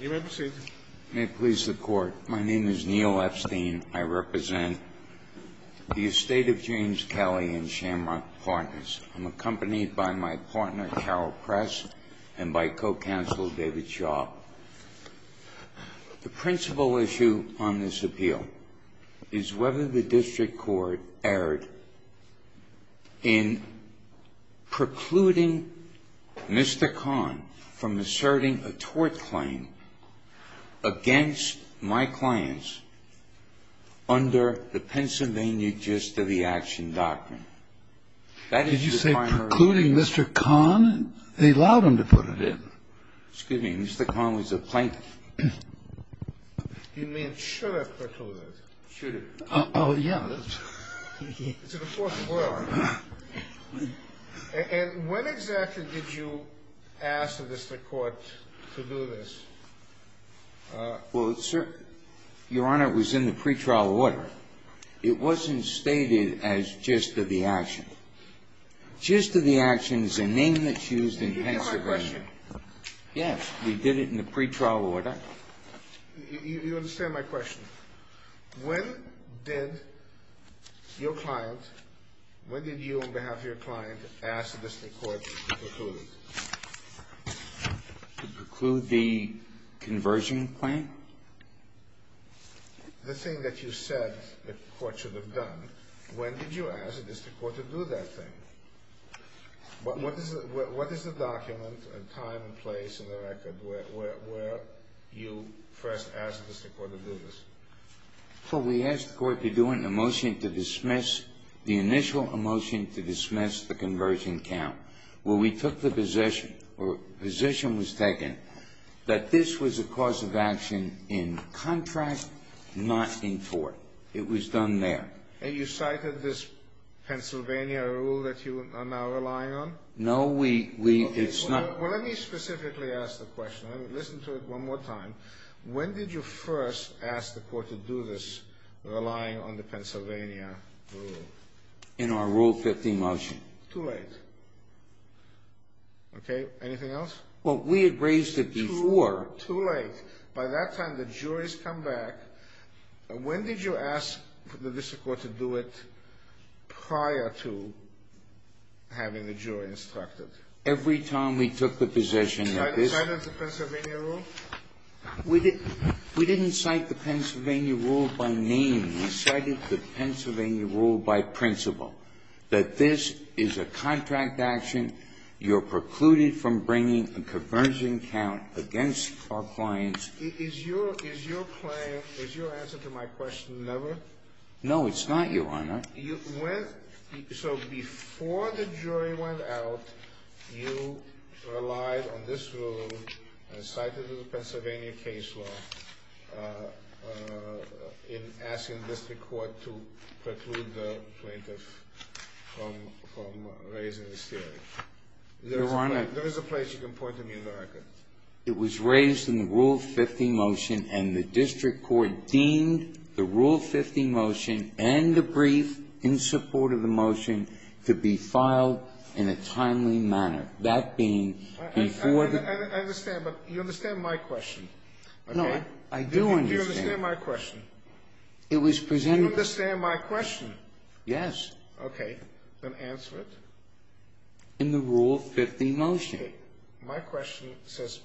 May it please the Court. My name is Neil Epstein. I represent the estate of James Kelly and Shamrock Partners. I'm accompanied by my partner, Carol Press, and my co-counsel, David Shaw. The principal issue on this appeal is whether the district court erred in precluding Mr. Kahn from asserting a tort claim against my clients under the Pennsylvania gist of the action doctrine. Did you say precluding Mr. Kahn? They allowed him to put it in. Excuse me. Mr. Kahn was a plaintiff. You mean should have put it? Should have. Oh, yeah. It's in the fourth floor. And when exactly did you ask the district court to do this? Well, sir, Your Honor, it was in the pretrial order. It wasn't stated as gist of the action. Gist of the action is a name that's used in Pennsylvania. Yes, we did it in the pretrial order. You understand my question. When did your client, when did you on behalf of your client ask the district court to preclude? To preclude the conversion claim? The thing that you said the court should have done, when did you ask the district court to do that thing? What is the document and time and place in the record where you first asked the district court to do this? Well, we asked the court to do it in a motion to dismiss, the initial motion to dismiss the conversion count. Well, we took the position or position was taken that this was a cause of action in contract, not in court. It was done there. And you cited this Pennsylvania rule that you are now relying on? No, we, we, it's not. Well, let me specifically ask the question. Listen to it one more time. When did you first ask the court to do this, relying on the Pennsylvania rule? In our Rule 15 motion. Too late. Okay, anything else? Well, we had raised it before. Too late. By that time, the jury's come back. When did you ask the district court to do it prior to having the jury instructed? Every time we took the position that this... Cited the Pennsylvania rule? We didn't cite the Pennsylvania rule by name. We cited the Pennsylvania rule by principle, that this is a contract action. You're precluded from bringing a conversion count against our clients. Is your claim, is your answer to my question, never? No, it's not, Your Honor. So before the jury went out, you relied on this rule and cited the Pennsylvania case law in asking the district court to preclude the plaintiff from raising this theory. Your Honor... There is a place you can point to me in the record. It was raised in the Rule 15 motion, and the district court deemed the Rule 15 motion and the brief in support of the motion to be filed in a timely manner. That being before the... I understand, but you understand my question. No, I do understand. Do you understand my question? It was presented... Do you understand my question? Yes. Okay. Then answer it. In the Rule 15 motion. Okay. My question says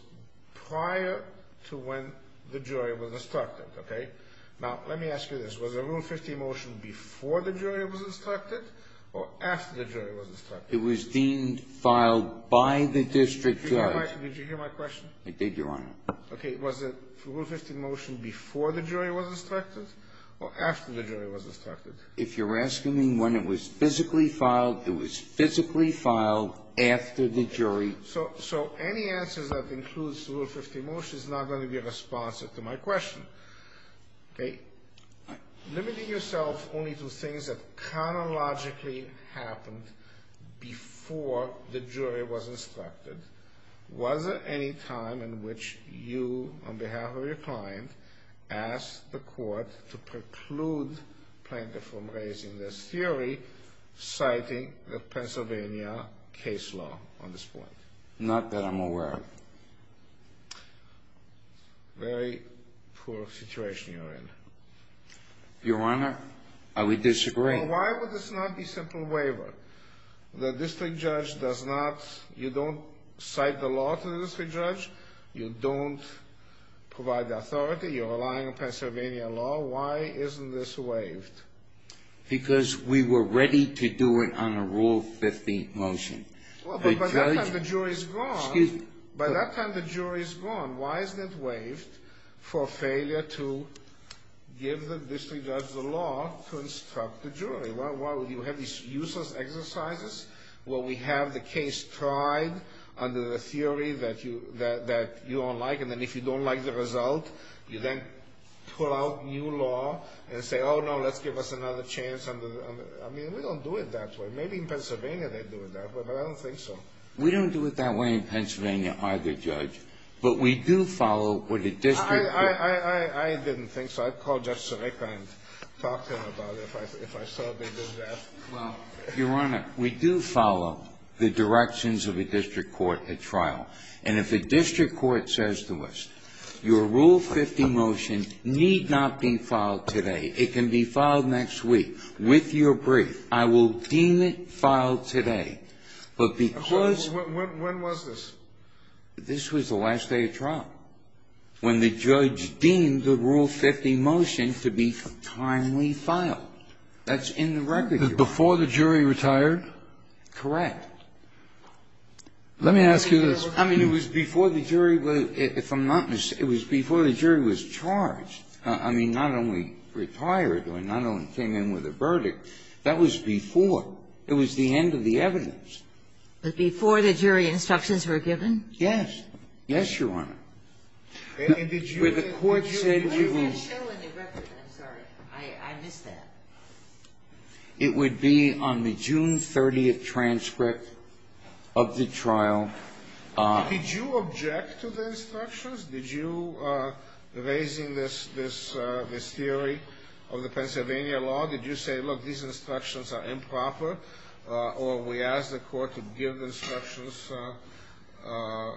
prior to when the jury was instructed, okay? Now, let me ask you this. Was the Rule 15 motion before the jury was instructed or after the jury was instructed? It was deemed filed by the district judge. Did you hear my question? I did, Your Honor. Okay. Was the Rule 15 motion before the jury was instructed or after the jury was instructed? If you're asking me when it was physically filed, it was physically filed after the jury... So any answers that includes the Rule 15 motion is not going to be responsive to my question, okay? Limiting yourself only to things that chronologically happened before the jury was instructed, was there any time in which you, on behalf of your client, asked the court to preclude plaintiff from raising this theory, citing the Pennsylvania case law on this point? Not that I'm aware of. Very poor situation you're in. Your Honor, I would disagree. Well, why would this not be simple waiver? The district judge does not... You don't cite the law to the district judge. You don't provide the authority. You're relying on Pennsylvania law. Why isn't this waived? Because we were ready to do it on a Rule 15 motion. Well, but by that time the jury's gone. By that time the jury's gone, why isn't it waived for failure to give the district judge the law to instruct the jury? Why would you have these useless exercises where we have the case tried under the theory that you don't like, and then if you don't like the result, you then pull out new law and say, oh, no, let's give us another chance under... I mean, we don't do it that way. Maybe in Pennsylvania they do it that way, but I don't think so. We don't do it that way in Pennsylvania either, Judge. But we do follow what a district judge... I didn't think so. I'd call Judge Serica and talk to him about it if I saw they did that. Well, Your Honor, we do follow the directions of a district court at trial. And if a district court says to us, your Rule 15 motion need not be filed today. It can be filed next week with your brief. I will deem it filed today. But because... When was this? This was the last day of trial, when the judge deemed the Rule 15 motion to be timely filed. That's in the record, Your Honor. Before the jury retired? Correct. Let me ask you this. I mean, it was before the jury was, if I'm not mistaken, it was before the jury was charged. I mean, not only retired, I mean, not only came in with a verdict. That was before. It was the end of the evidence. But before the jury instructions were given? Yes. Yes, Your Honor. And did you... Where the court said... It was not shown in the record. I'm sorry. I missed that. It would be on the June 30th transcript of the trial. Did you object to the instructions? Did you, raising this theory of the Pennsylvania law, did you say, look, these instructions are improper, or we ask the court to give instructions on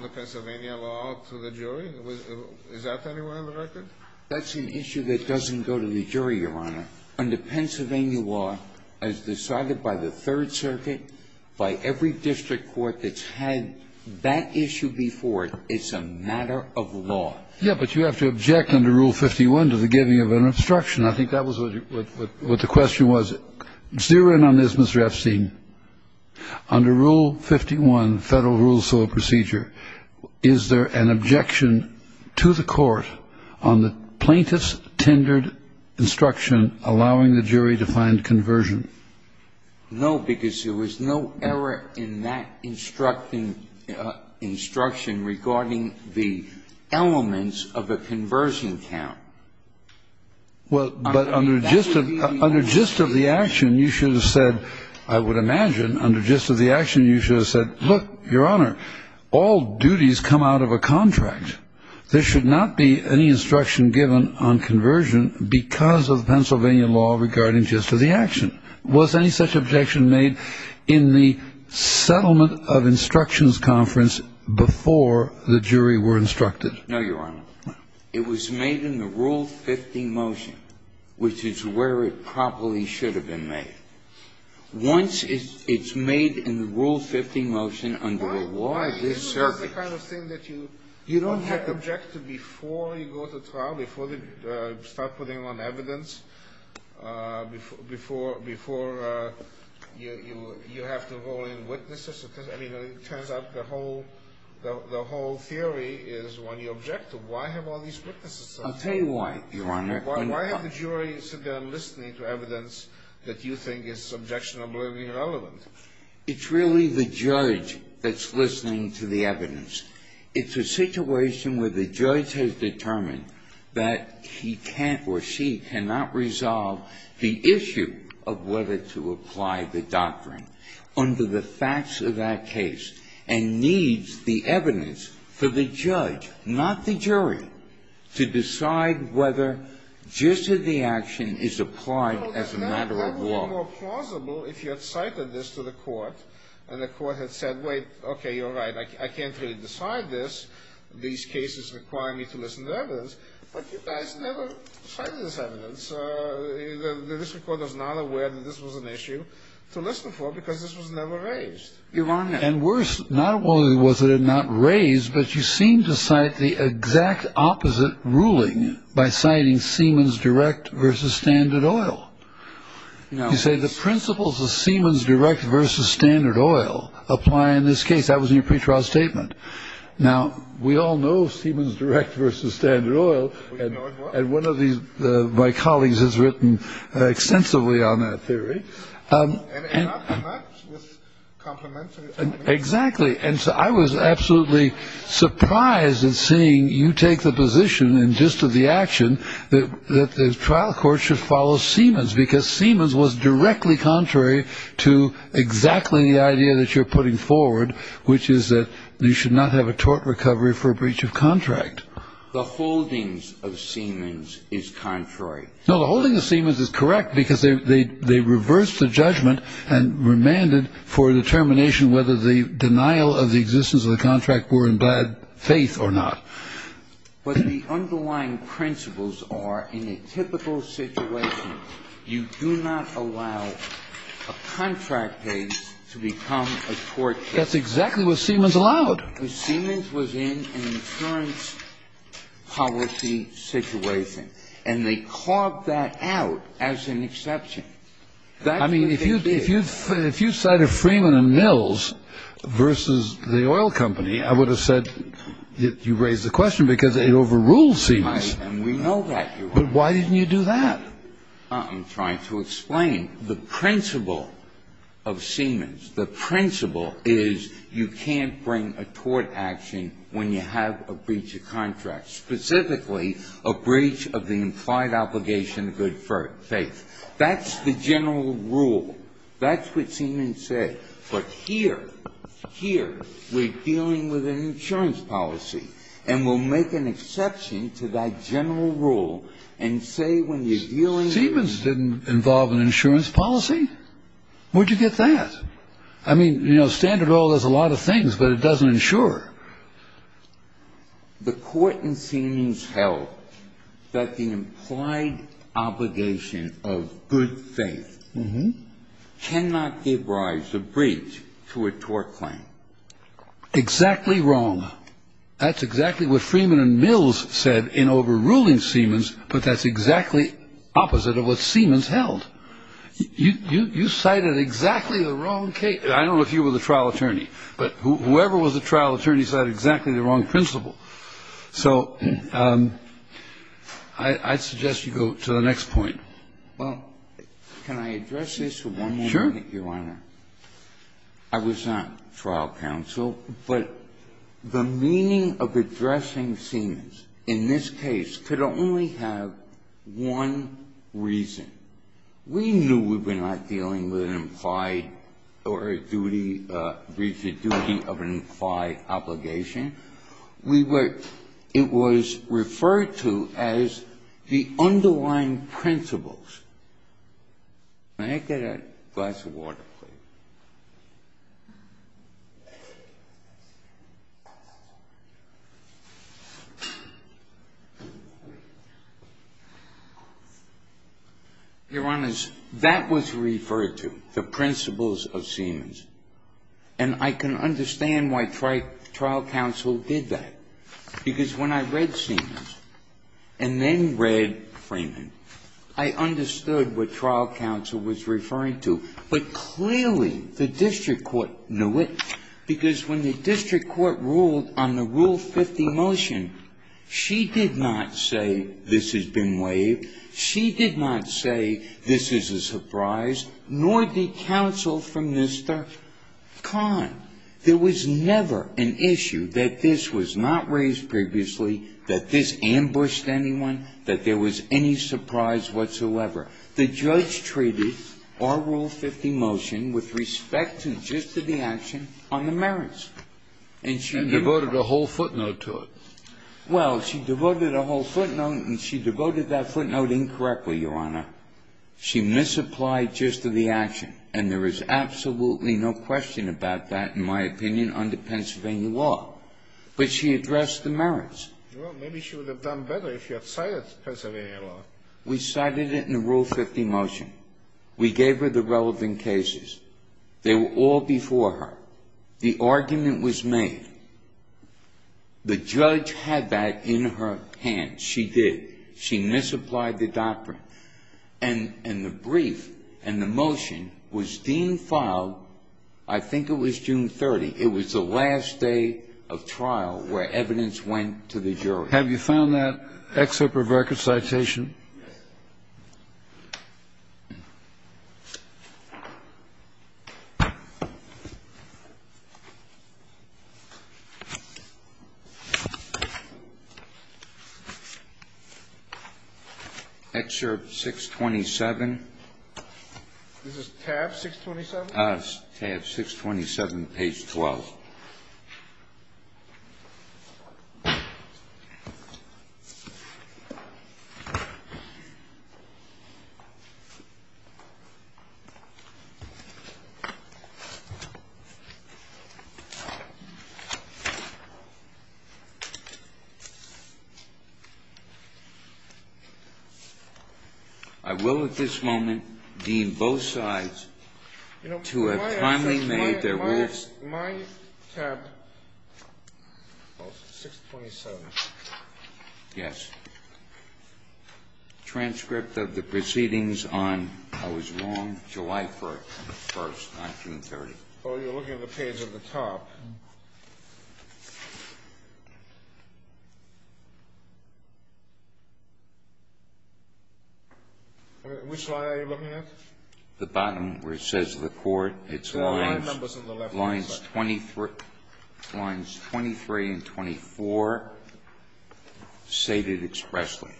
the Pennsylvania law to the jury? Is that anywhere in the record? That's an issue that doesn't go to the jury, Your Honor. Under Pennsylvania law, as decided by the Third Circuit, by every district court that's had that issue before, it's a matter of law. Yeah, but you have to object under Rule 51 to the giving of an instruction. I think that was what the question was. Zero in on this, Mr. Epstein. Under Rule 51, Federal Rules of Procedure, is there an objection to the court on the plaintiff's tendered instruction allowing the jury to find conversion? No, because there was no error in that instruction regarding the elements of a conversion count. Well, but under gist of the action, you should have said, I would imagine, under gist of the action, you should have said, look, Your Honor, all duties come out of a contract. There should not be any instruction given on conversion because of Pennsylvania law regarding gist of the action. Was any such objection made in the settlement of instructions conference before the jury were instructed? No, Your Honor. No. It was made in the Rule 50 motion, which is where it probably should have been made. Once it's made in the Rule 50 motion under the law of this circuit. You don't have to object to before you go to trial, before they start putting on evidence, before you have to roll in witnesses. I mean, it turns out the whole theory is when you object to, why have all these witnesses? I'll tell you why, Your Honor. Why have the jury sit down listening to evidence that you think is subjectionable and irrelevant? It's really the judge that's listening to the evidence. It's a situation where the judge has determined that he can't or she cannot resolve the issue of whether to apply the doctrine under the facts of that case and needs the evidence for the judge, not the jury, to decide whether gist of the action is applied as a matter of law. It would have been more plausible if you had cited this to the court and the court had said, wait, okay, you're right, I can't really decide this. These cases require me to listen to evidence. But you guys never cited this evidence. The district court was not aware that this was an issue to listen for because this was never raised. Your Honor. And worse, not only was it not raised, but you seemed to cite the exact opposite ruling by citing Siemens Direct versus Standard Oil. You say the principles of Siemens Direct versus Standard Oil apply in this case. That was in your pretrial statement. Now, we all know Siemens Direct versus Standard Oil. And one of my colleagues has written extensively on that theory. And not with complements. Exactly. And so I was absolutely surprised in seeing you take the position in gist of the action that the trial court should follow Siemens because Siemens was directly contrary to exactly the idea that you're putting forward, which is that you should not have a tort recovery for a breach of contract. The holdings of Siemens is contrary. No, the holdings of Siemens is correct because they reversed the judgment and remanded for determination whether the denial of the existence of the contract were in bad faith or not. But the underlying principles are in a typical situation, you do not allow a contract case to become a tort case. That's exactly what Siemens allowed. Because Siemens was in an insurance policy situation. And they carved that out as an exception. I mean, if you cited Freeman and Mills versus the oil company, I would have said you raised the question because it overruled Siemens. And we know that, Your Honor. But why didn't you do that? I'm trying to explain. The principle of Siemens, the principle is you can't bring a tort action when you have a breach of contract, specifically a breach of the implied obligation of good faith. That's the general rule. That's what Siemens said. But here, here, we're dealing with an insurance policy. And we'll make an exception to that general rule and say when you're dealing with an insurance policy. Siemens didn't involve an insurance policy. Where did you get that? I mean, you know, standard oil does a lot of things, but it doesn't insure. The court in Siemens held that the implied obligation of good faith cannot give rise to a breach to a tort claim. Exactly wrong. That's exactly what Freeman and Mills said in overruling Siemens, but that's exactly opposite of what Siemens held. You cited exactly the wrong case. I don't know if you were the trial attorney, but whoever was the trial attorney cited exactly the wrong principle. So I'd suggest you go to the next point. Well, can I address this one more time, Your Honor? I was not trial counsel, but the meaning of addressing Siemens in this case could only have one reason. We knew we were not dealing with an implied or a duty, breach of duty of an implied obligation. We were, it was referred to as the underlying principles. May I get a glass of water, please? Your Honors, that was referred to, the principles of Siemens. And I can understand why trial counsel did that, because when I read Siemens and then read Freeman, I understood what trial counsel was referring to. But clearly the district court knew it, because when the district court ruled on the Rule 50 motion, she did not say this has been waived. She did not say this is a surprise, nor did counsel from Mr. Kahn. There was never an issue that this was not raised previously, that this ambushed anyone, that there was any surprise whatsoever. The judge treated our Rule 50 motion with respect to the gist of the action on the merits. And she devoted a whole footnote to it. Well, she devoted a whole footnote, and she devoted that footnote incorrectly, Your Honor. She misapplied gist of the action. And there is absolutely no question about that, in my opinion, under Pennsylvania law. But she addressed the merits. Well, maybe she would have done better if she had cited Pennsylvania law. We cited it in the Rule 50 motion. We gave her the relevant cases. They were all before her. The argument was made. The judge had that in her hands. She did. She misapplied the doctrine. And the brief and the motion was deemed filed, I think it was June 30th. It was the last day of trial where evidence went to the jury. Have you found that excerpt of record citation? Excerpt 627. This is tab 627? Yes, tab 627, page 12. I will at this moment deem both sides to have kindly made their rules clear. Tab 627. Yes. Transcript of the proceedings on, I was wrong, July 1st, 1930. Oh, you're looking at the page at the top. Which line are you looking at? The bottom where it says the court. It's lines 23 and 24 stated expressly.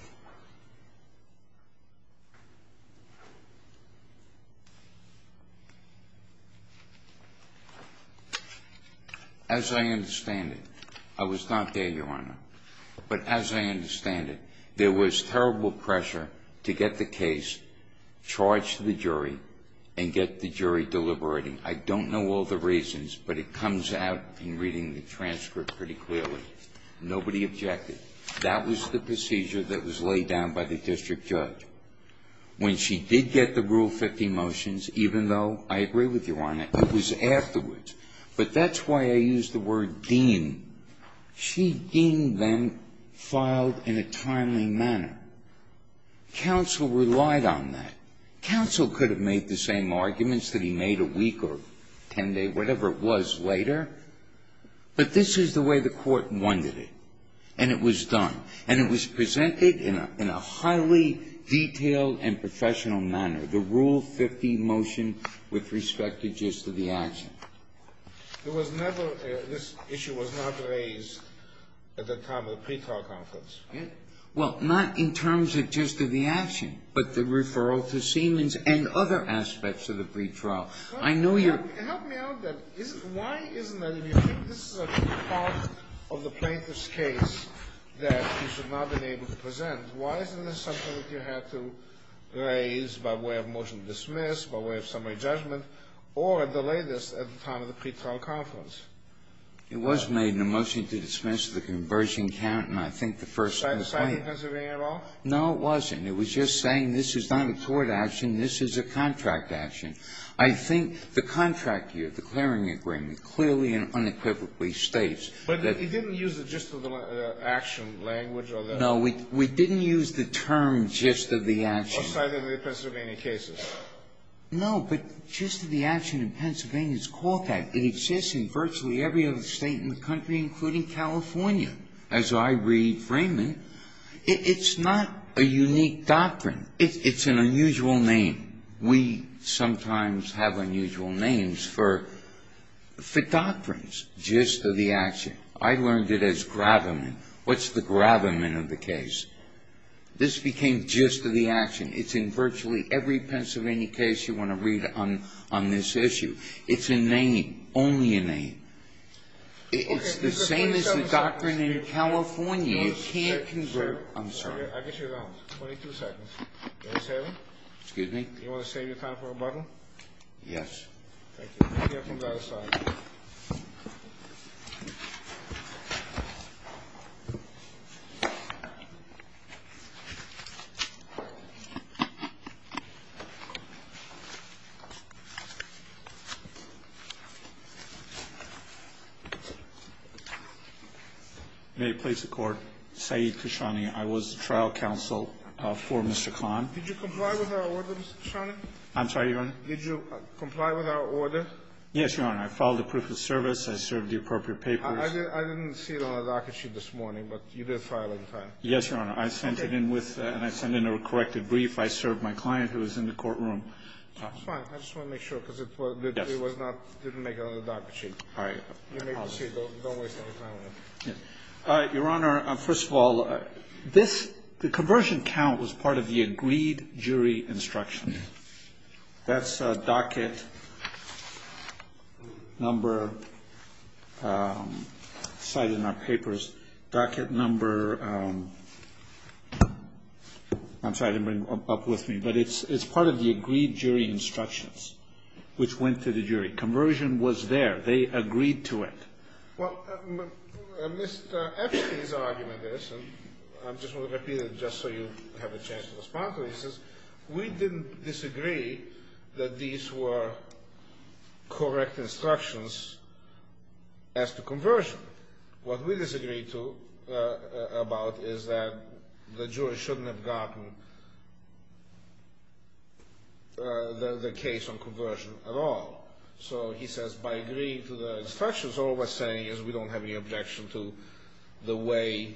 As I understand it, I was not there, Your Honor, but as I understand it, there pressure to get the case charged to the jury and get the jury deliberating. I don't know all the reasons, but it comes out in reading the transcript pretty clearly. Nobody objected. That was the procedure that was laid down by the district judge. When she did get the Rule 50 motions, even though, I agree with you, Your Honor, it was afterwards. But that's why I used the word deemed. She deemed them filed in a timely manner. Counsel relied on that. Counsel could have made the same arguments that he made a week or ten days, whatever it was, later. But this is the way the court wanted it. And it was done. And it was presented in a highly detailed and professional manner, the Rule 50 motion with respect to just the action. There was never, this issue was not raised at the time of the pre-trial conference. Well, not in terms of just of the action, but the referral to Siemens and other aspects of the pre-trial. I know you're Help me out then. Why isn't that, if you think this is a part of the plaintiff's case that you should not have been able to present, why isn't this something that you had to raise by way of motion to dismiss, by way of summary judgment, or at the latest at the time of the pre-trial conference? It was made in a motion to dismiss the conversion count, and I think the first in the plaintiff's case Was it cited in Pennsylvania at all? No, it wasn't. It was just saying this is not a court action. This is a contract action. I think the contract here, the clearing agreement, clearly and unequivocally states that But it didn't use the just of the action language or the No, we didn't use the term just of the action Or cited in the Pennsylvania cases. No, but just of the action in Pennsylvania is called that. It exists in virtually every other state in the country, including California. As I read Freeman, it's not a unique doctrine. It's an unusual name. We sometimes have unusual names for doctrines. Just of the action. I learned it as gravamen. This became just of the action. It's in virtually every Pennsylvania case you want to read on this issue. It's a name. Only a name. It's the same as the doctrine in California. You can't convert. I'm sorry. I'll get you around. 22 seconds. Excuse me. You want to save your time for a bottle? Yes. Thank you. Be careful of the other side. May it please the Court. Said Kishani, I was trial counsel for Mr. Kahn. Did you comply with our order, Mr. Kishani? I'm sorry, Your Honor. Did you comply with our order? Yes, Your Honor. I followed the proof of service. I served the appropriate papers. I didn't see it on the docket sheet this morning, but you did file it in time. Yes, Your Honor. I sent it in with and I sent in a corrected brief. I served my client who was in the courtroom. It's fine. I just want to make sure because it didn't make it on the docket sheet. All right. I apologize. Don't waste any time on it. All right. Your Honor, first of all, the conversion count was part of the agreed jury instruction. That's docket number cited in our papers. I'm sorry, I didn't bring it up with me, but it's part of the agreed jury instructions which went to the jury. Conversion was there. They agreed to it. Well, Mr. Epstein's argument is, and I just want to repeat it just so you have a chance to respond to this, is we didn't disagree that these were correct instructions as to conversion. What we disagreed about is that the jury shouldn't have gotten the case on conversion at all. So he says by agreeing to the instructions, all we're saying is we don't have any objection to the way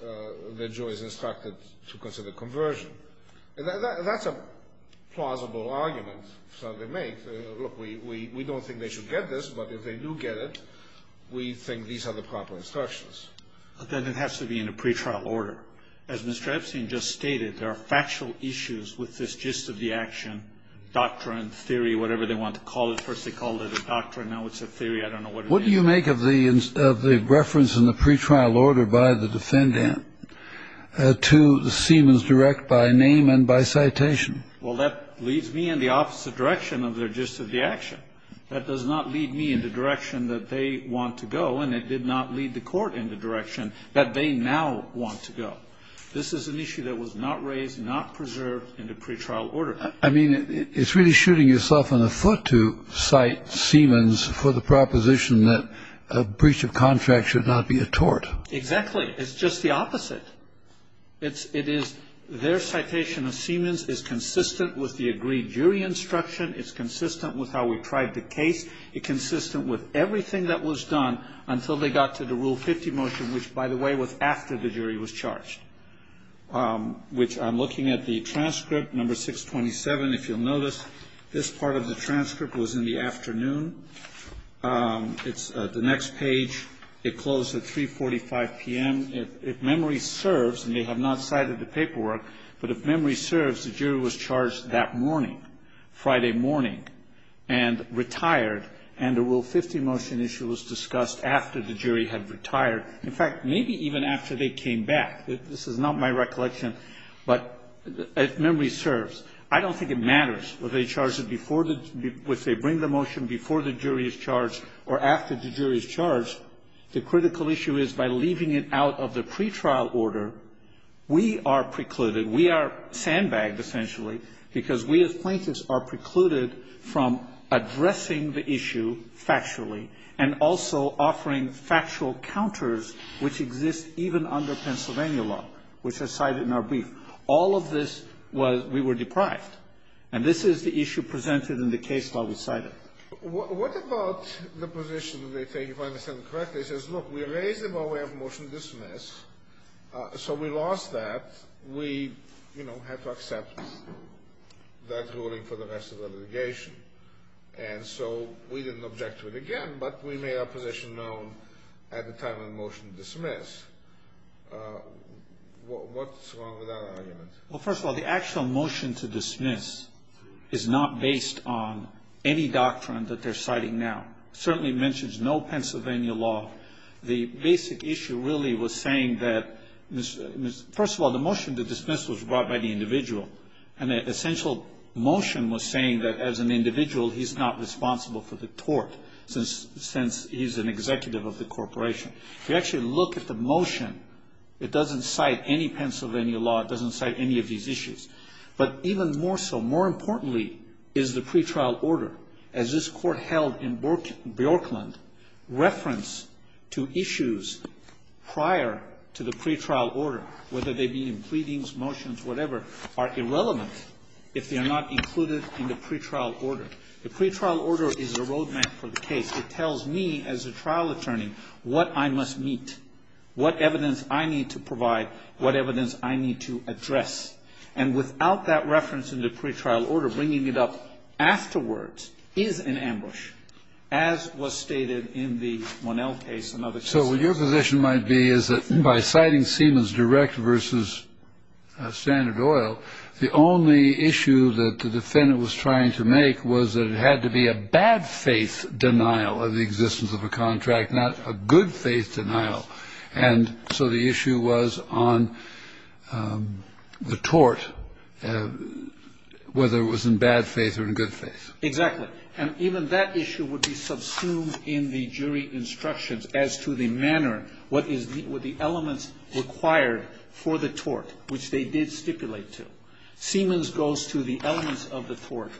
the jury is instructed to consider conversion. That's a plausible argument. Look, we don't think they should get this, but if they do get it, we think these are the proper instructions. But then it has to be in a pretrial order. As Mr. Epstein just stated, there are factual issues with this gist of the action, doctrine, theory, whatever they want to call it. First they called it a doctrine, now it's a theory. I don't know what it means. What do you make of the reference in the pretrial order by the defendant to the Siemens direct by name and by citation? Well, that leads me in the opposite direction of their gist of the action. That does not lead me in the direction that they want to go, and it did not lead the court in the direction that they now want to go. This is an issue that was not raised, not preserved in the pretrial order. I mean, it's really shooting yourself in the foot to cite Siemens for the proposition that a breach of contract should not be a tort. Exactly. It's just the opposite. It is their citation of Siemens is consistent with the agreed jury instruction, it's consistent with how we tried the case, it's consistent with everything that was done until they got to the Rule 50 motion, which, by the way, was after the jury was charged. Which I'm looking at the transcript, number 627. If you'll notice, this part of the transcript was in the afternoon. It's the next page. It closed at 3.45 p.m. If memory serves, and they have not cited the paperwork, but if memory serves, the jury was charged that morning, Friday morning, and retired, and the Rule 50 motion issue was discussed after the jury had retired. In fact, maybe even after they came back. This is not my recollection. But if memory serves, I don't think it matters whether they charge it before they bring the motion, before the jury is charged, or after the jury is charged. The critical issue is by leaving it out of the pretrial order, we are precluded, we are sandbagged, essentially, because we, as plaintiffs, are precluded from addressing the issue factually and also offering factual counters which exist even under Pennsylvania law, which are cited in our brief. All of this was we were deprived. And this is the issue presented in the case law we cited. Scalia. What about the position that they take, if I understand it correctly, says, look, we raised it, but we have a motion to dismiss, so we lost that. We, you know, have to accept that ruling for the rest of the litigation. And so we didn't object to it again, but we made our position known at the time of the motion to dismiss. What's wrong with that argument? Well, first of all, the actual motion to dismiss is not based on any doctrine that they're citing now. It certainly mentions no Pennsylvania law. The basic issue really was saying that, first of all, the motion to dismiss was brought by the individual, and the essential motion was saying that, as an individual, he's not responsible for the tort since he's an executive of the corporation. If you actually look at the motion, it doesn't cite any Pennsylvania law. It doesn't cite any of these issues. But even more so, more importantly, is the pretrial order. As this Court held in Brooklyn, reference to issues prior to the pretrial order, whether they be in pleadings, motions, whatever, are irrelevant if they are not included in the pretrial order. The pretrial order is a road map for the case. It tells me, as a trial attorney, what I must meet, what evidence I need to provide, what evidence I need to address. And without that reference in the pretrial order, bringing it up afterwards is an ambush, as was stated in the Monell case and other cases. So what your position might be is that by citing Siemens Direct versus Standard Oil, the only issue that the defendant was trying to make was that it had to be a bad faith denial of the existence of a contract, not a good faith denial. And so the issue was on the tort, whether it was in bad faith or in good faith. Exactly. And even that issue would be subsumed in the jury instructions as to the manner, what is the elements required for the tort, which they did stipulate to. Siemens goes to the elements of the tort,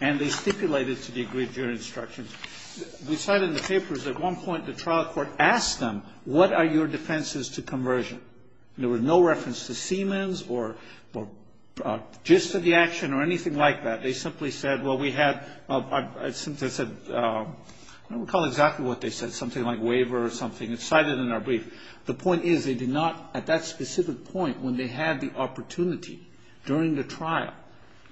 and they stipulate it to the agreed jury instructions. We cite in the papers at one point the trial court asked them, what are your defenses to conversion? And there was no reference to Siemens or gist of the action or anything like that. They simply said, well, we had, since I said, I don't recall exactly what they said, something like waiver or something. It's cited in our brief. The point is they did not, at that specific point, when they had the opportunity during the trial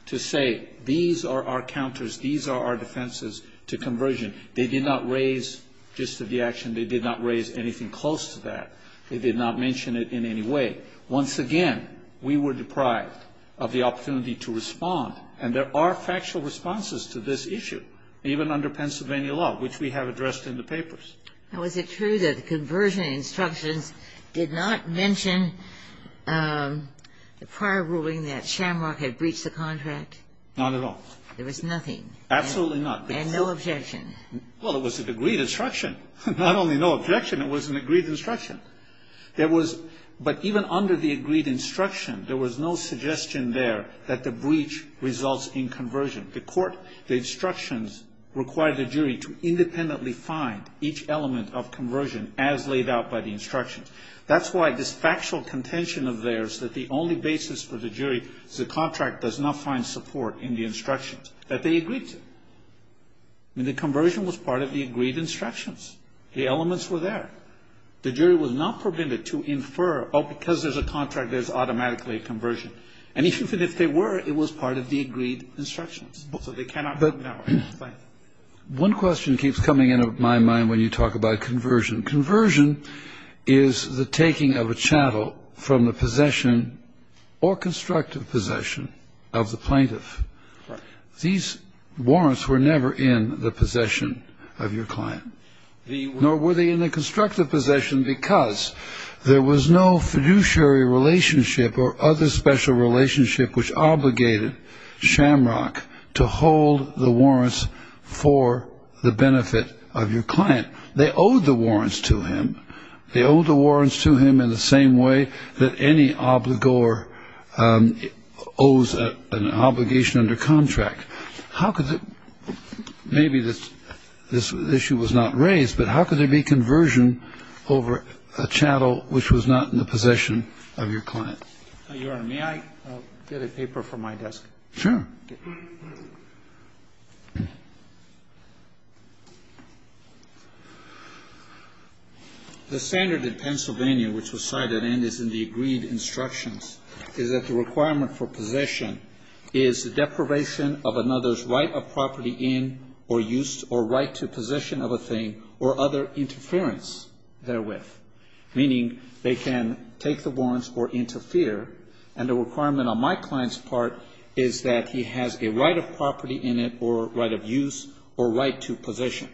to say, these are our counters, these are our defenses to conversion, they did not raise gist of the action. They did not raise anything close to that. They did not mention it in any way. Once again, we were deprived of the opportunity to respond, and there are factual responses to this issue, even under Pennsylvania law, which we have addressed in the papers. Now, is it true that the conversion instructions did not mention the prior ruling that Shamrock had breached the contract? Not at all. There was nothing. Absolutely not. And no objection. Well, it was an agreed instruction. Not only no objection, it was an agreed instruction. There was, but even under the agreed instruction, there was no suggestion there that the breach results in conversion. The court, the instructions required the jury to independently find each element of conversion as laid out by the instructions. That's why this factual contention of theirs that the only basis for the jury is the contract does not find support in the instructions, that they agreed to. I mean, the conversion was part of the agreed instructions. The elements were there. The jury was not prevented to infer, oh, because there's a contract, there's automatically a conversion. And even if they were, it was part of the agreed instructions. So they cannot know. Thank you. One question keeps coming into my mind when you talk about conversion. Conversion is the taking of a chattel from the possession or constructive possession of the plaintiff. These warrants were never in the possession of your client. Nor were they in the constructive possession because there was no fiduciary relationship or other special relationship which obligated Shamrock to hold the warrants for the benefit of your client. They owed the warrants to him. They owed the warrants to him in the same way that any obligor owes an obligation under contract. How could the – maybe this issue was not raised, but how could there be conversion over a chattel which was not in the possession of your client? Your Honor, may I get a paper from my desk? Sure. The standard in Pennsylvania which was cited and is in the agreed instructions is that the requirement for possession is the deprivation of another's right of property in or use or right to possession of a thing or other interference therewith, meaning they can take the warrants or interfere. And the requirement on my client's part is that he has a right of property in it or right of use or right to possession.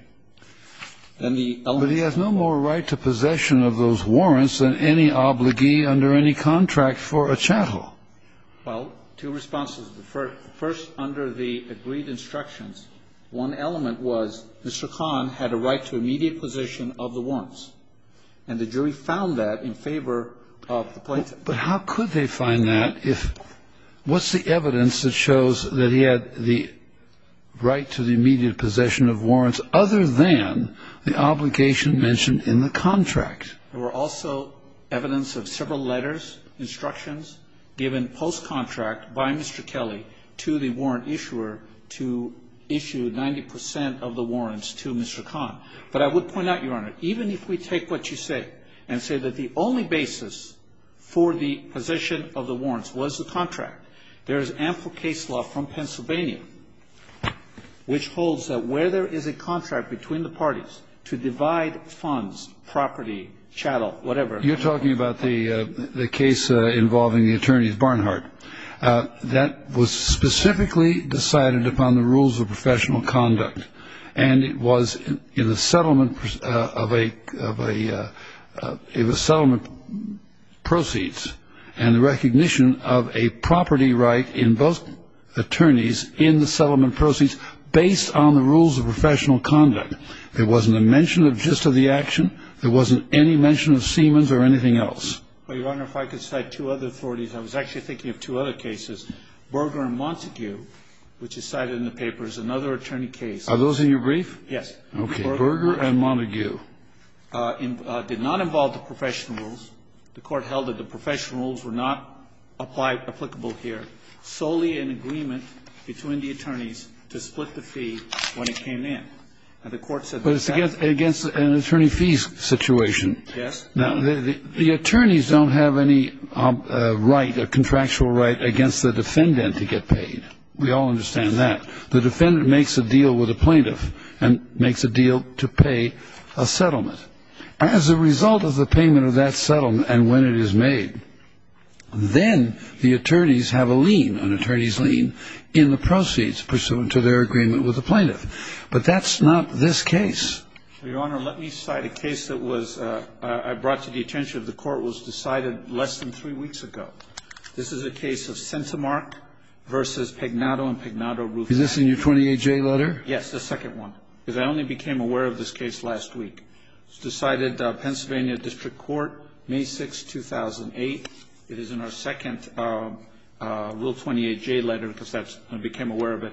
Then the element of the law. Well, two responses. First, under the agreed instructions, one element was Mr. Kahn had a right to immediate possession of the warrants. And the jury found that in favor of the plaintiff. But how could they find that if – what's the evidence that shows that he had the right to the immediate possession of warrants other than the obligation mentioned in the contract? There were also evidence of several letters, instructions given post-contract by Mr. Kelly to the warrant issuer to issue 90 percent of the warrants to Mr. Kahn. But I would point out, Your Honor, even if we take what you say and say that the only basis for the possession of the warrants was the contract, there is ample case law from Pennsylvania which holds that where there is a contract between the parties to divide funds, property, chattel, whatever. You're talking about the case involving the attorneys Barnhart. That was specifically decided upon the rules of professional conduct. And it was in the settlement of a – it was settlement proceeds and the recognition of a property right in both attorneys in the settlement proceeds based on the rules of professional conduct. And it was in the settlement of a property right. There wasn't a mention of just of the action. There wasn't any mention of Siemens or anything else. Well, Your Honor, if I could cite two other authorities. I was actually thinking of two other cases. Berger and Montague, which is cited in the paper, is another attorney case. Are those in your brief? Yes. Okay. Berger and Montague. Berger and Montague did not involve the professional rules. The Court held that the professional rules were not applicable here, solely in agreement between the attorneys to split the fee when it came in. And the Court said that. But it's against an attorney fee situation. Yes. Now, the attorneys don't have any right, a contractual right, against the defendant to get paid. We all understand that. The defendant makes a deal with a plaintiff and makes a deal to pay a settlement. As a result of the payment of that settlement and when it is made, then the attorneys have a lien, an attorney's lien, in the proceeds pursuant to their agreement with the plaintiff. But that's not this case. Your Honor, let me cite a case that was – I brought to the attention of the Court was decided less than three weeks ago. This is a case of Centimark v. Pagnotto and Pagnotto, Rufus. Is this in your 28J letter? Yes, the second one. Because I only became aware of this case last week. It was decided, Pennsylvania District Court, May 6, 2008. It is in our second Rule 28J letter because I became aware of it.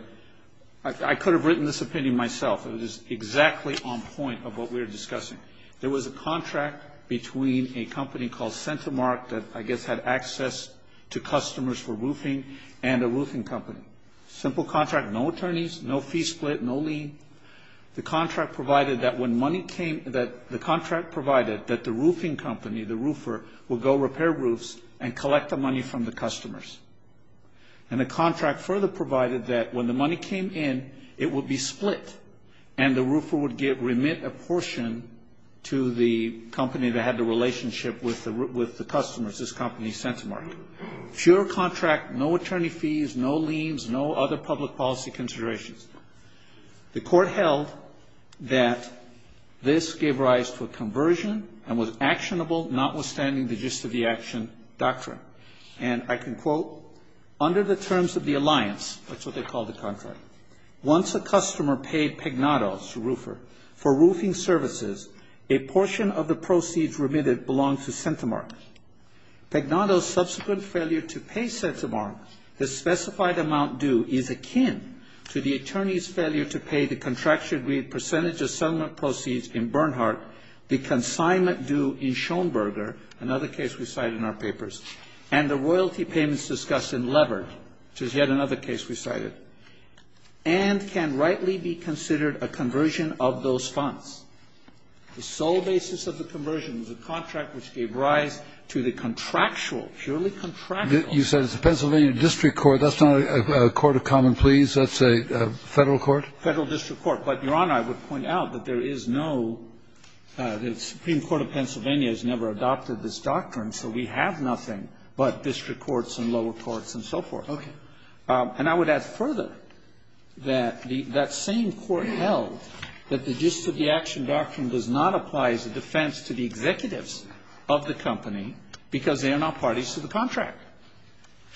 I could have written this opinion myself. It is exactly on point of what we are discussing. There was a contract between a company called Centimark that I guess had access to customers for roofing and a roofing company. Simple contract, no attorneys, no fee split, no lien. The contract provided that when money came – the contract provided that the roofing and collect the money from the customers. And the contract further provided that when the money came in, it would be split and the roofer would remit a portion to the company that had the relationship with the customers, this company Centimark. Pure contract, no attorney fees, no liens, no other public policy considerations. The Court held that this gave rise to a conversion and was actionable, notwithstanding the gist of the action doctrine. And I can quote, under the terms of the alliance, that's what they called the contract, once a customer paid Pagnotto, the roofer, for roofing services, a portion of the proceeds remitted belonged to Centimark. Pagnotto's subsequent failure to pay Centimark, the specified amount due, is akin to the attorney's failure to pay the contractually agreed percentage of the settlement proceeds in Bernhardt, the consignment due in Schoenberger, another case we cite in our papers, and the royalty payments discussed in Levert, which is yet another case we cited, and can rightly be considered a conversion of those funds. The sole basis of the conversion was a contract which gave rise to the contractual, purely contractual. You said it's a Pennsylvania district court. That's not a court of common pleas. That's a Federal court? Federal district court. But, Your Honor, I would point out that there is no – the Supreme Court of Pennsylvania has never adopted this doctrine, so we have nothing but district courts and lower courts and so forth. Okay. And I would add further that the – that same court held that the gist of the action doctrine does not apply as a defense to the executives of the company because they are not parties to the contract.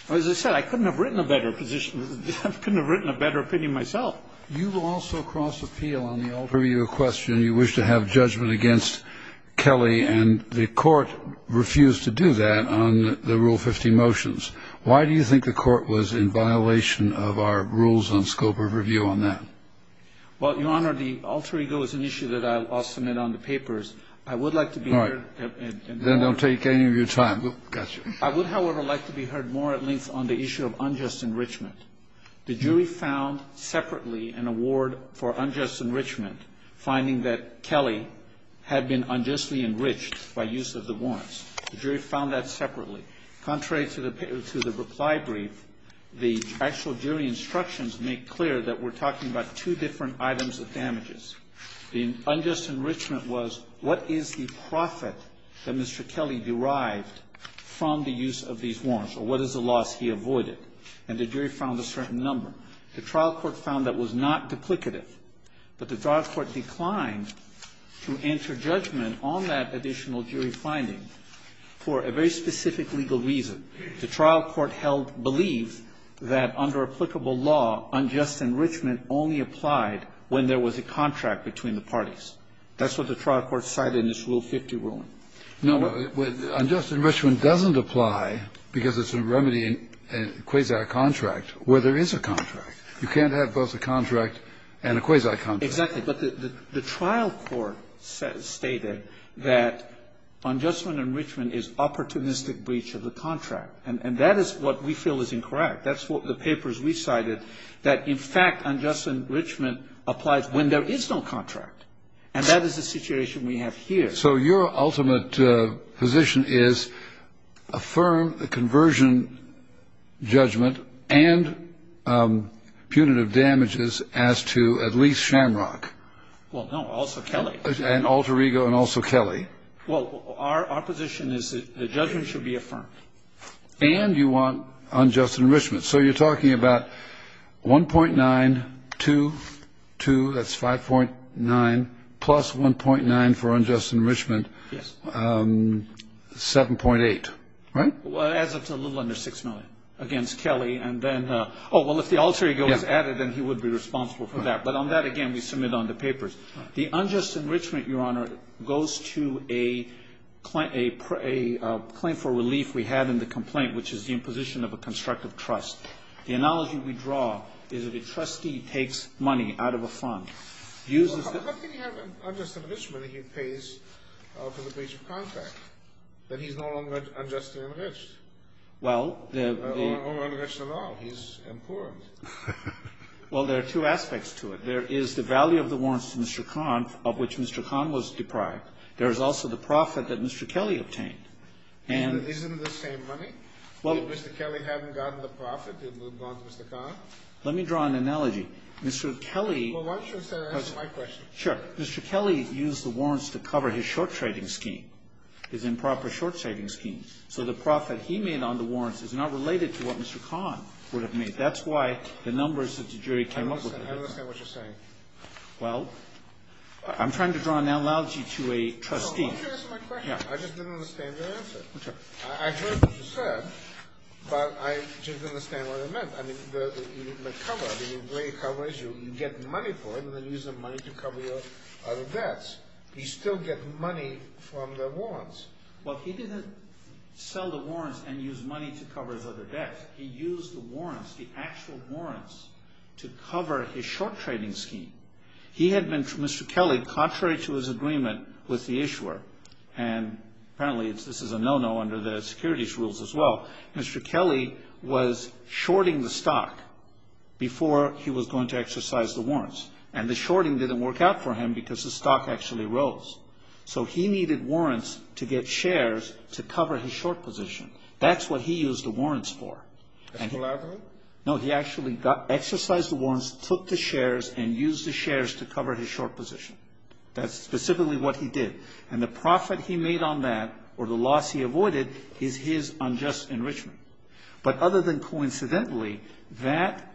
As I said, I couldn't have written a better position. I couldn't have written a better opinion myself. Well, you also cross-appeal on the alter ego question. You wish to have judgment against Kelly, and the court refused to do that on the Rule 50 motions. Why do you think the court was in violation of our rules on scope of review on that? Well, Your Honor, the alter ego is an issue that I'll submit on the papers. I would like to be heard in more detail. All right. Then don't take any of your time. Gotcha. I would, however, like to be heard more at length on the issue of unjust enrichment. The jury found separately an award for unjust enrichment, finding that Kelly had been unjustly enriched by use of the warrants. The jury found that separately. Contrary to the reply brief, the actual jury instructions make clear that we're talking about two different items of damages. The unjust enrichment was what is the profit that Mr. Kelly derived from the use of these warrants, or what is the loss he avoided? And the jury found a certain number. The trial court found that was not duplicative. But the trial court declined to enter judgment on that additional jury finding for a very specific legal reason. The trial court held to believe that under applicable law, unjust enrichment only applied when there was a contract between the parties. That's what the trial court cited in this Rule 50 ruling. No, unjust enrichment doesn't apply because it's a remedy in a quasi-contract where there is a contract. You can't have both a contract and a quasi-contract. Exactly. But the trial court stated that unjust enrichment is opportunistic breach of the contract. And that is what we feel is incorrect. That's what the papers recited, that in fact unjust enrichment applies when there is no contract. And that is the situation we have here. Okay, so your ultimate position is affirm the conversion judgment and punitive damages as to at least Shamrock. Well, no, also Kelly. And Alter Ego and also Kelly. Well, our position is that the judgment should be affirmed. And you want unjust enrichment. So you're talking about 1.922, that's 5.9, plus 1.9 for unjust enrichment, 7.8, right? Well, it adds up to a little under 6 million against Kelly. And then, oh, well, if the Alter Ego is added, then he would be responsible for that. But on that, again, we submit on the papers. The unjust enrichment, Your Honor, goes to a claim for relief we had in the complaint, which is the imposition of a constructive trust. The analogy we draw is that a trustee takes money out of a fund, uses the ---- Well, how can you have unjust enrichment if he pays for the breach of contract, that he's no longer unjustly enriched? Well, the ---- Or enriched at all. He's impoverished. Well, there are two aspects to it. There is the value of the warrants to Mr. Kahn, of which Mr. Kahn was deprived. There is also the profit that Mr. Kelly obtained. And ---- Well, Mr. Kelly hadn't gotten the profit. It would have gone to Mr. Kahn. Let me draw an analogy. Mr. Kelly ---- Well, why don't you instead answer my question? Sure. Mr. Kelly used the warrants to cover his short trading scheme, his improper short trading scheme. So the profit he made on the warrants is not related to what Mr. Kahn would have made. That's why the numbers that the jury came up with ---- I don't understand. I don't understand what you're saying. Well, I'm trying to draw an analogy to a trustee. No, why don't you answer my question? Yeah. I just didn't understand your answer. Okay. I heard what you said, but I didn't understand what it meant. I mean, the cover, the gray cover is you get money for it and then use the money to cover your other debts. You still get money from the warrants. Well, he didn't sell the warrants and use money to cover his other debts. He used the warrants, the actual warrants, to cover his short trading scheme. He had been, Mr. Kelly, contrary to his agreement with the issuer, and apparently this is a no-no under the securities rules as well, Mr. Kelly was shorting the stock before he was going to exercise the warrants. And the shorting didn't work out for him because the stock actually rose. So he needed warrants to get shares to cover his short position. That's what he used the warrants for. Collaborate? No, he actually exercised the warrants, took the shares, and used the shares to cover his short position. That's specifically what he did. And the profit he made on that, or the loss he avoided, is his unjust enrichment. But other than coincidentally, that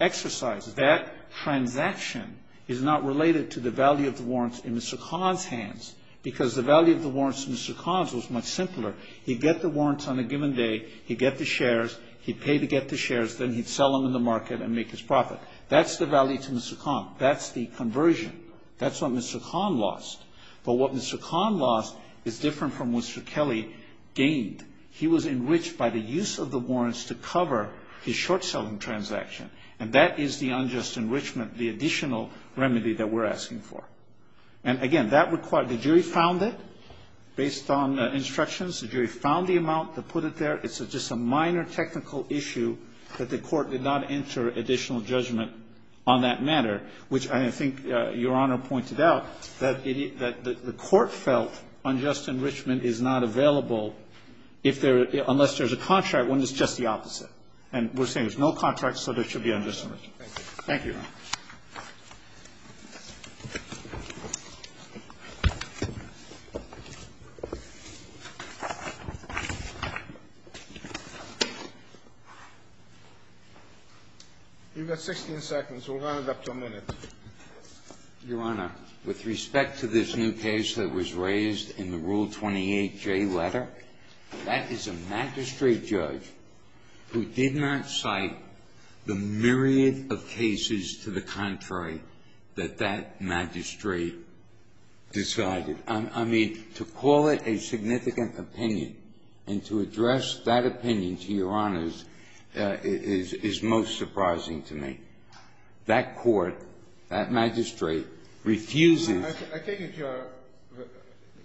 exercise, that transaction is not related to the value of the warrants in Mr. Kahn's hands because the value of the warrants in Mr. Kahn's was much simpler. He'd get the warrants on a given day. He'd get the shares. He'd pay to get the shares. Then he'd sell them in the market and make his profit. That's the value to Mr. Kahn. That's the conversion. That's what Mr. Kahn lost. But what Mr. Kahn lost is different from what Mr. Kelly gained. He was enriched by the use of the warrants to cover his short-selling transaction. And that is the unjust enrichment, the additional remedy that we're asking for. And, again, that required the jury found it based on instructions. The jury found the amount that put it there. It's just a minor technical issue that the court did not enter additional judgment on that matter, which I think Your Honor pointed out, that the court felt unjust enrichment is not available unless there's a contract when it's just the opposite. And we're saying there's no contract, so there should be unjust enrichment. Thank you, Your Honor. You've got 16 seconds. We'll round it up to a minute. Your Honor, with respect to this new case that was raised in the Rule 28J letter, that is a magistrate judge who did not cite the myriad of cases to the contrary that that magistrate decided. I mean, to call it a significant opinion and to address that opinion to Your Honor is most surprising to me. That court, that magistrate, refuses. I think if you're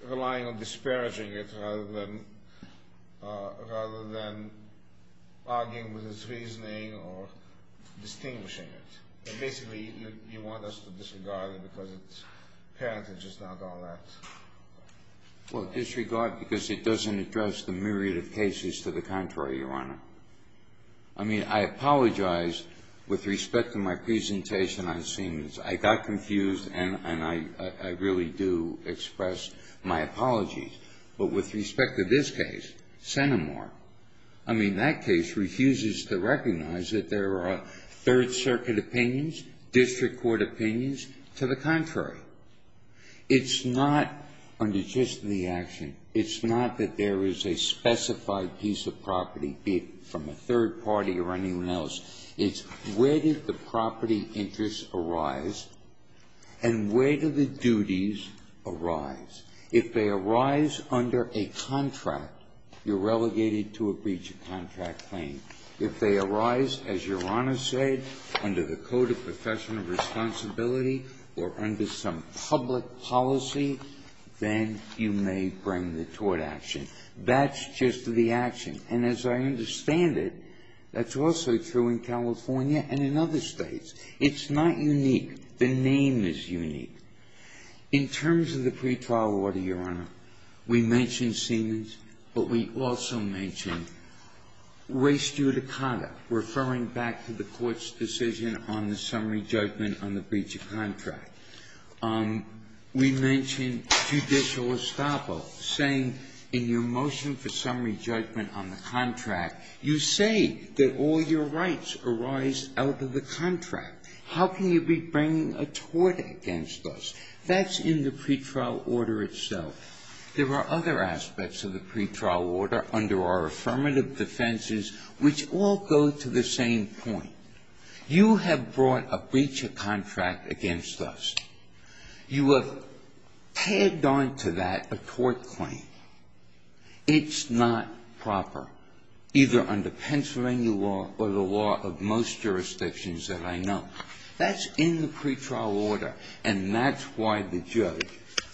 relying on disparaging it rather than arguing with its reasoning or distinguishing it. Basically, you want us to disregard it because apparently it's just not all that. Well, disregard because it doesn't address the myriad of cases to the contrary, Your Honor. I mean, I apologize with respect to my presentation on Siemens. I got confused, and I really do express my apologies. But with respect to this case, Centimore, I mean, that case refuses to recognize that there are Third Circuit opinions, district court opinions, to the contrary. It's not unjust in the action. And the reason I'm saying this, and I don't mean it from a third party or anyone else, is where did the property interests arise and where do the duties arise? If they arise under a contract, you're relegated to a breach of contract claim. If they arise, as Your Honor said, under the Code of Professional Responsibility or under some public policy, then you may bring the tort action. That's just the action. And as I understand it, that's also true in California and in other States. It's not unique. The name is unique. In terms of the pretrial order, Your Honor, we mentioned Siemens, but we also mentioned Waste Judicata, referring back to the Court's decision on the summary judgment on the breach of contract. We mentioned judicial estoppel, saying in your motion for summary judgment on the contract, you say that all your rights arise out of the contract. How can you be bringing a tort against us? That's in the pretrial order itself. There are other aspects of the pretrial order under our affirmative defenses, which all go to the same point. You have brought a breach of contract against us. You have tagged on to that a tort claim. It's not proper, either under Pennsylvania law or the law of most jurisdictions that I know. That's in the pretrial order. And that's why the judge,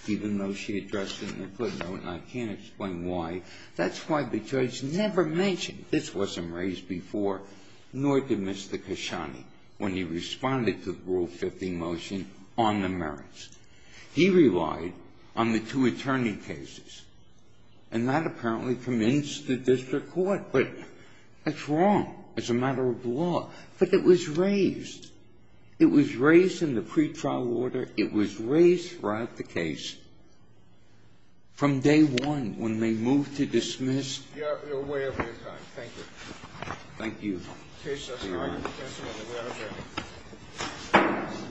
even though she addressed it in the footnote and I can't explain why, that's why the judge never mentioned this wasn't raised before, nor did Mr. Khashoggi when he responded to the Rule 15 motion on the merits. He relied on the two attorney cases. And that apparently convinced the district court. But that's wrong as a matter of law. But it was raised. It was raised in the pretrial order. It was raised throughout the case from day one when they moved to dismiss. You're way over your time. Thank you. Thank you. That's all right. That's all right. We are adjourned.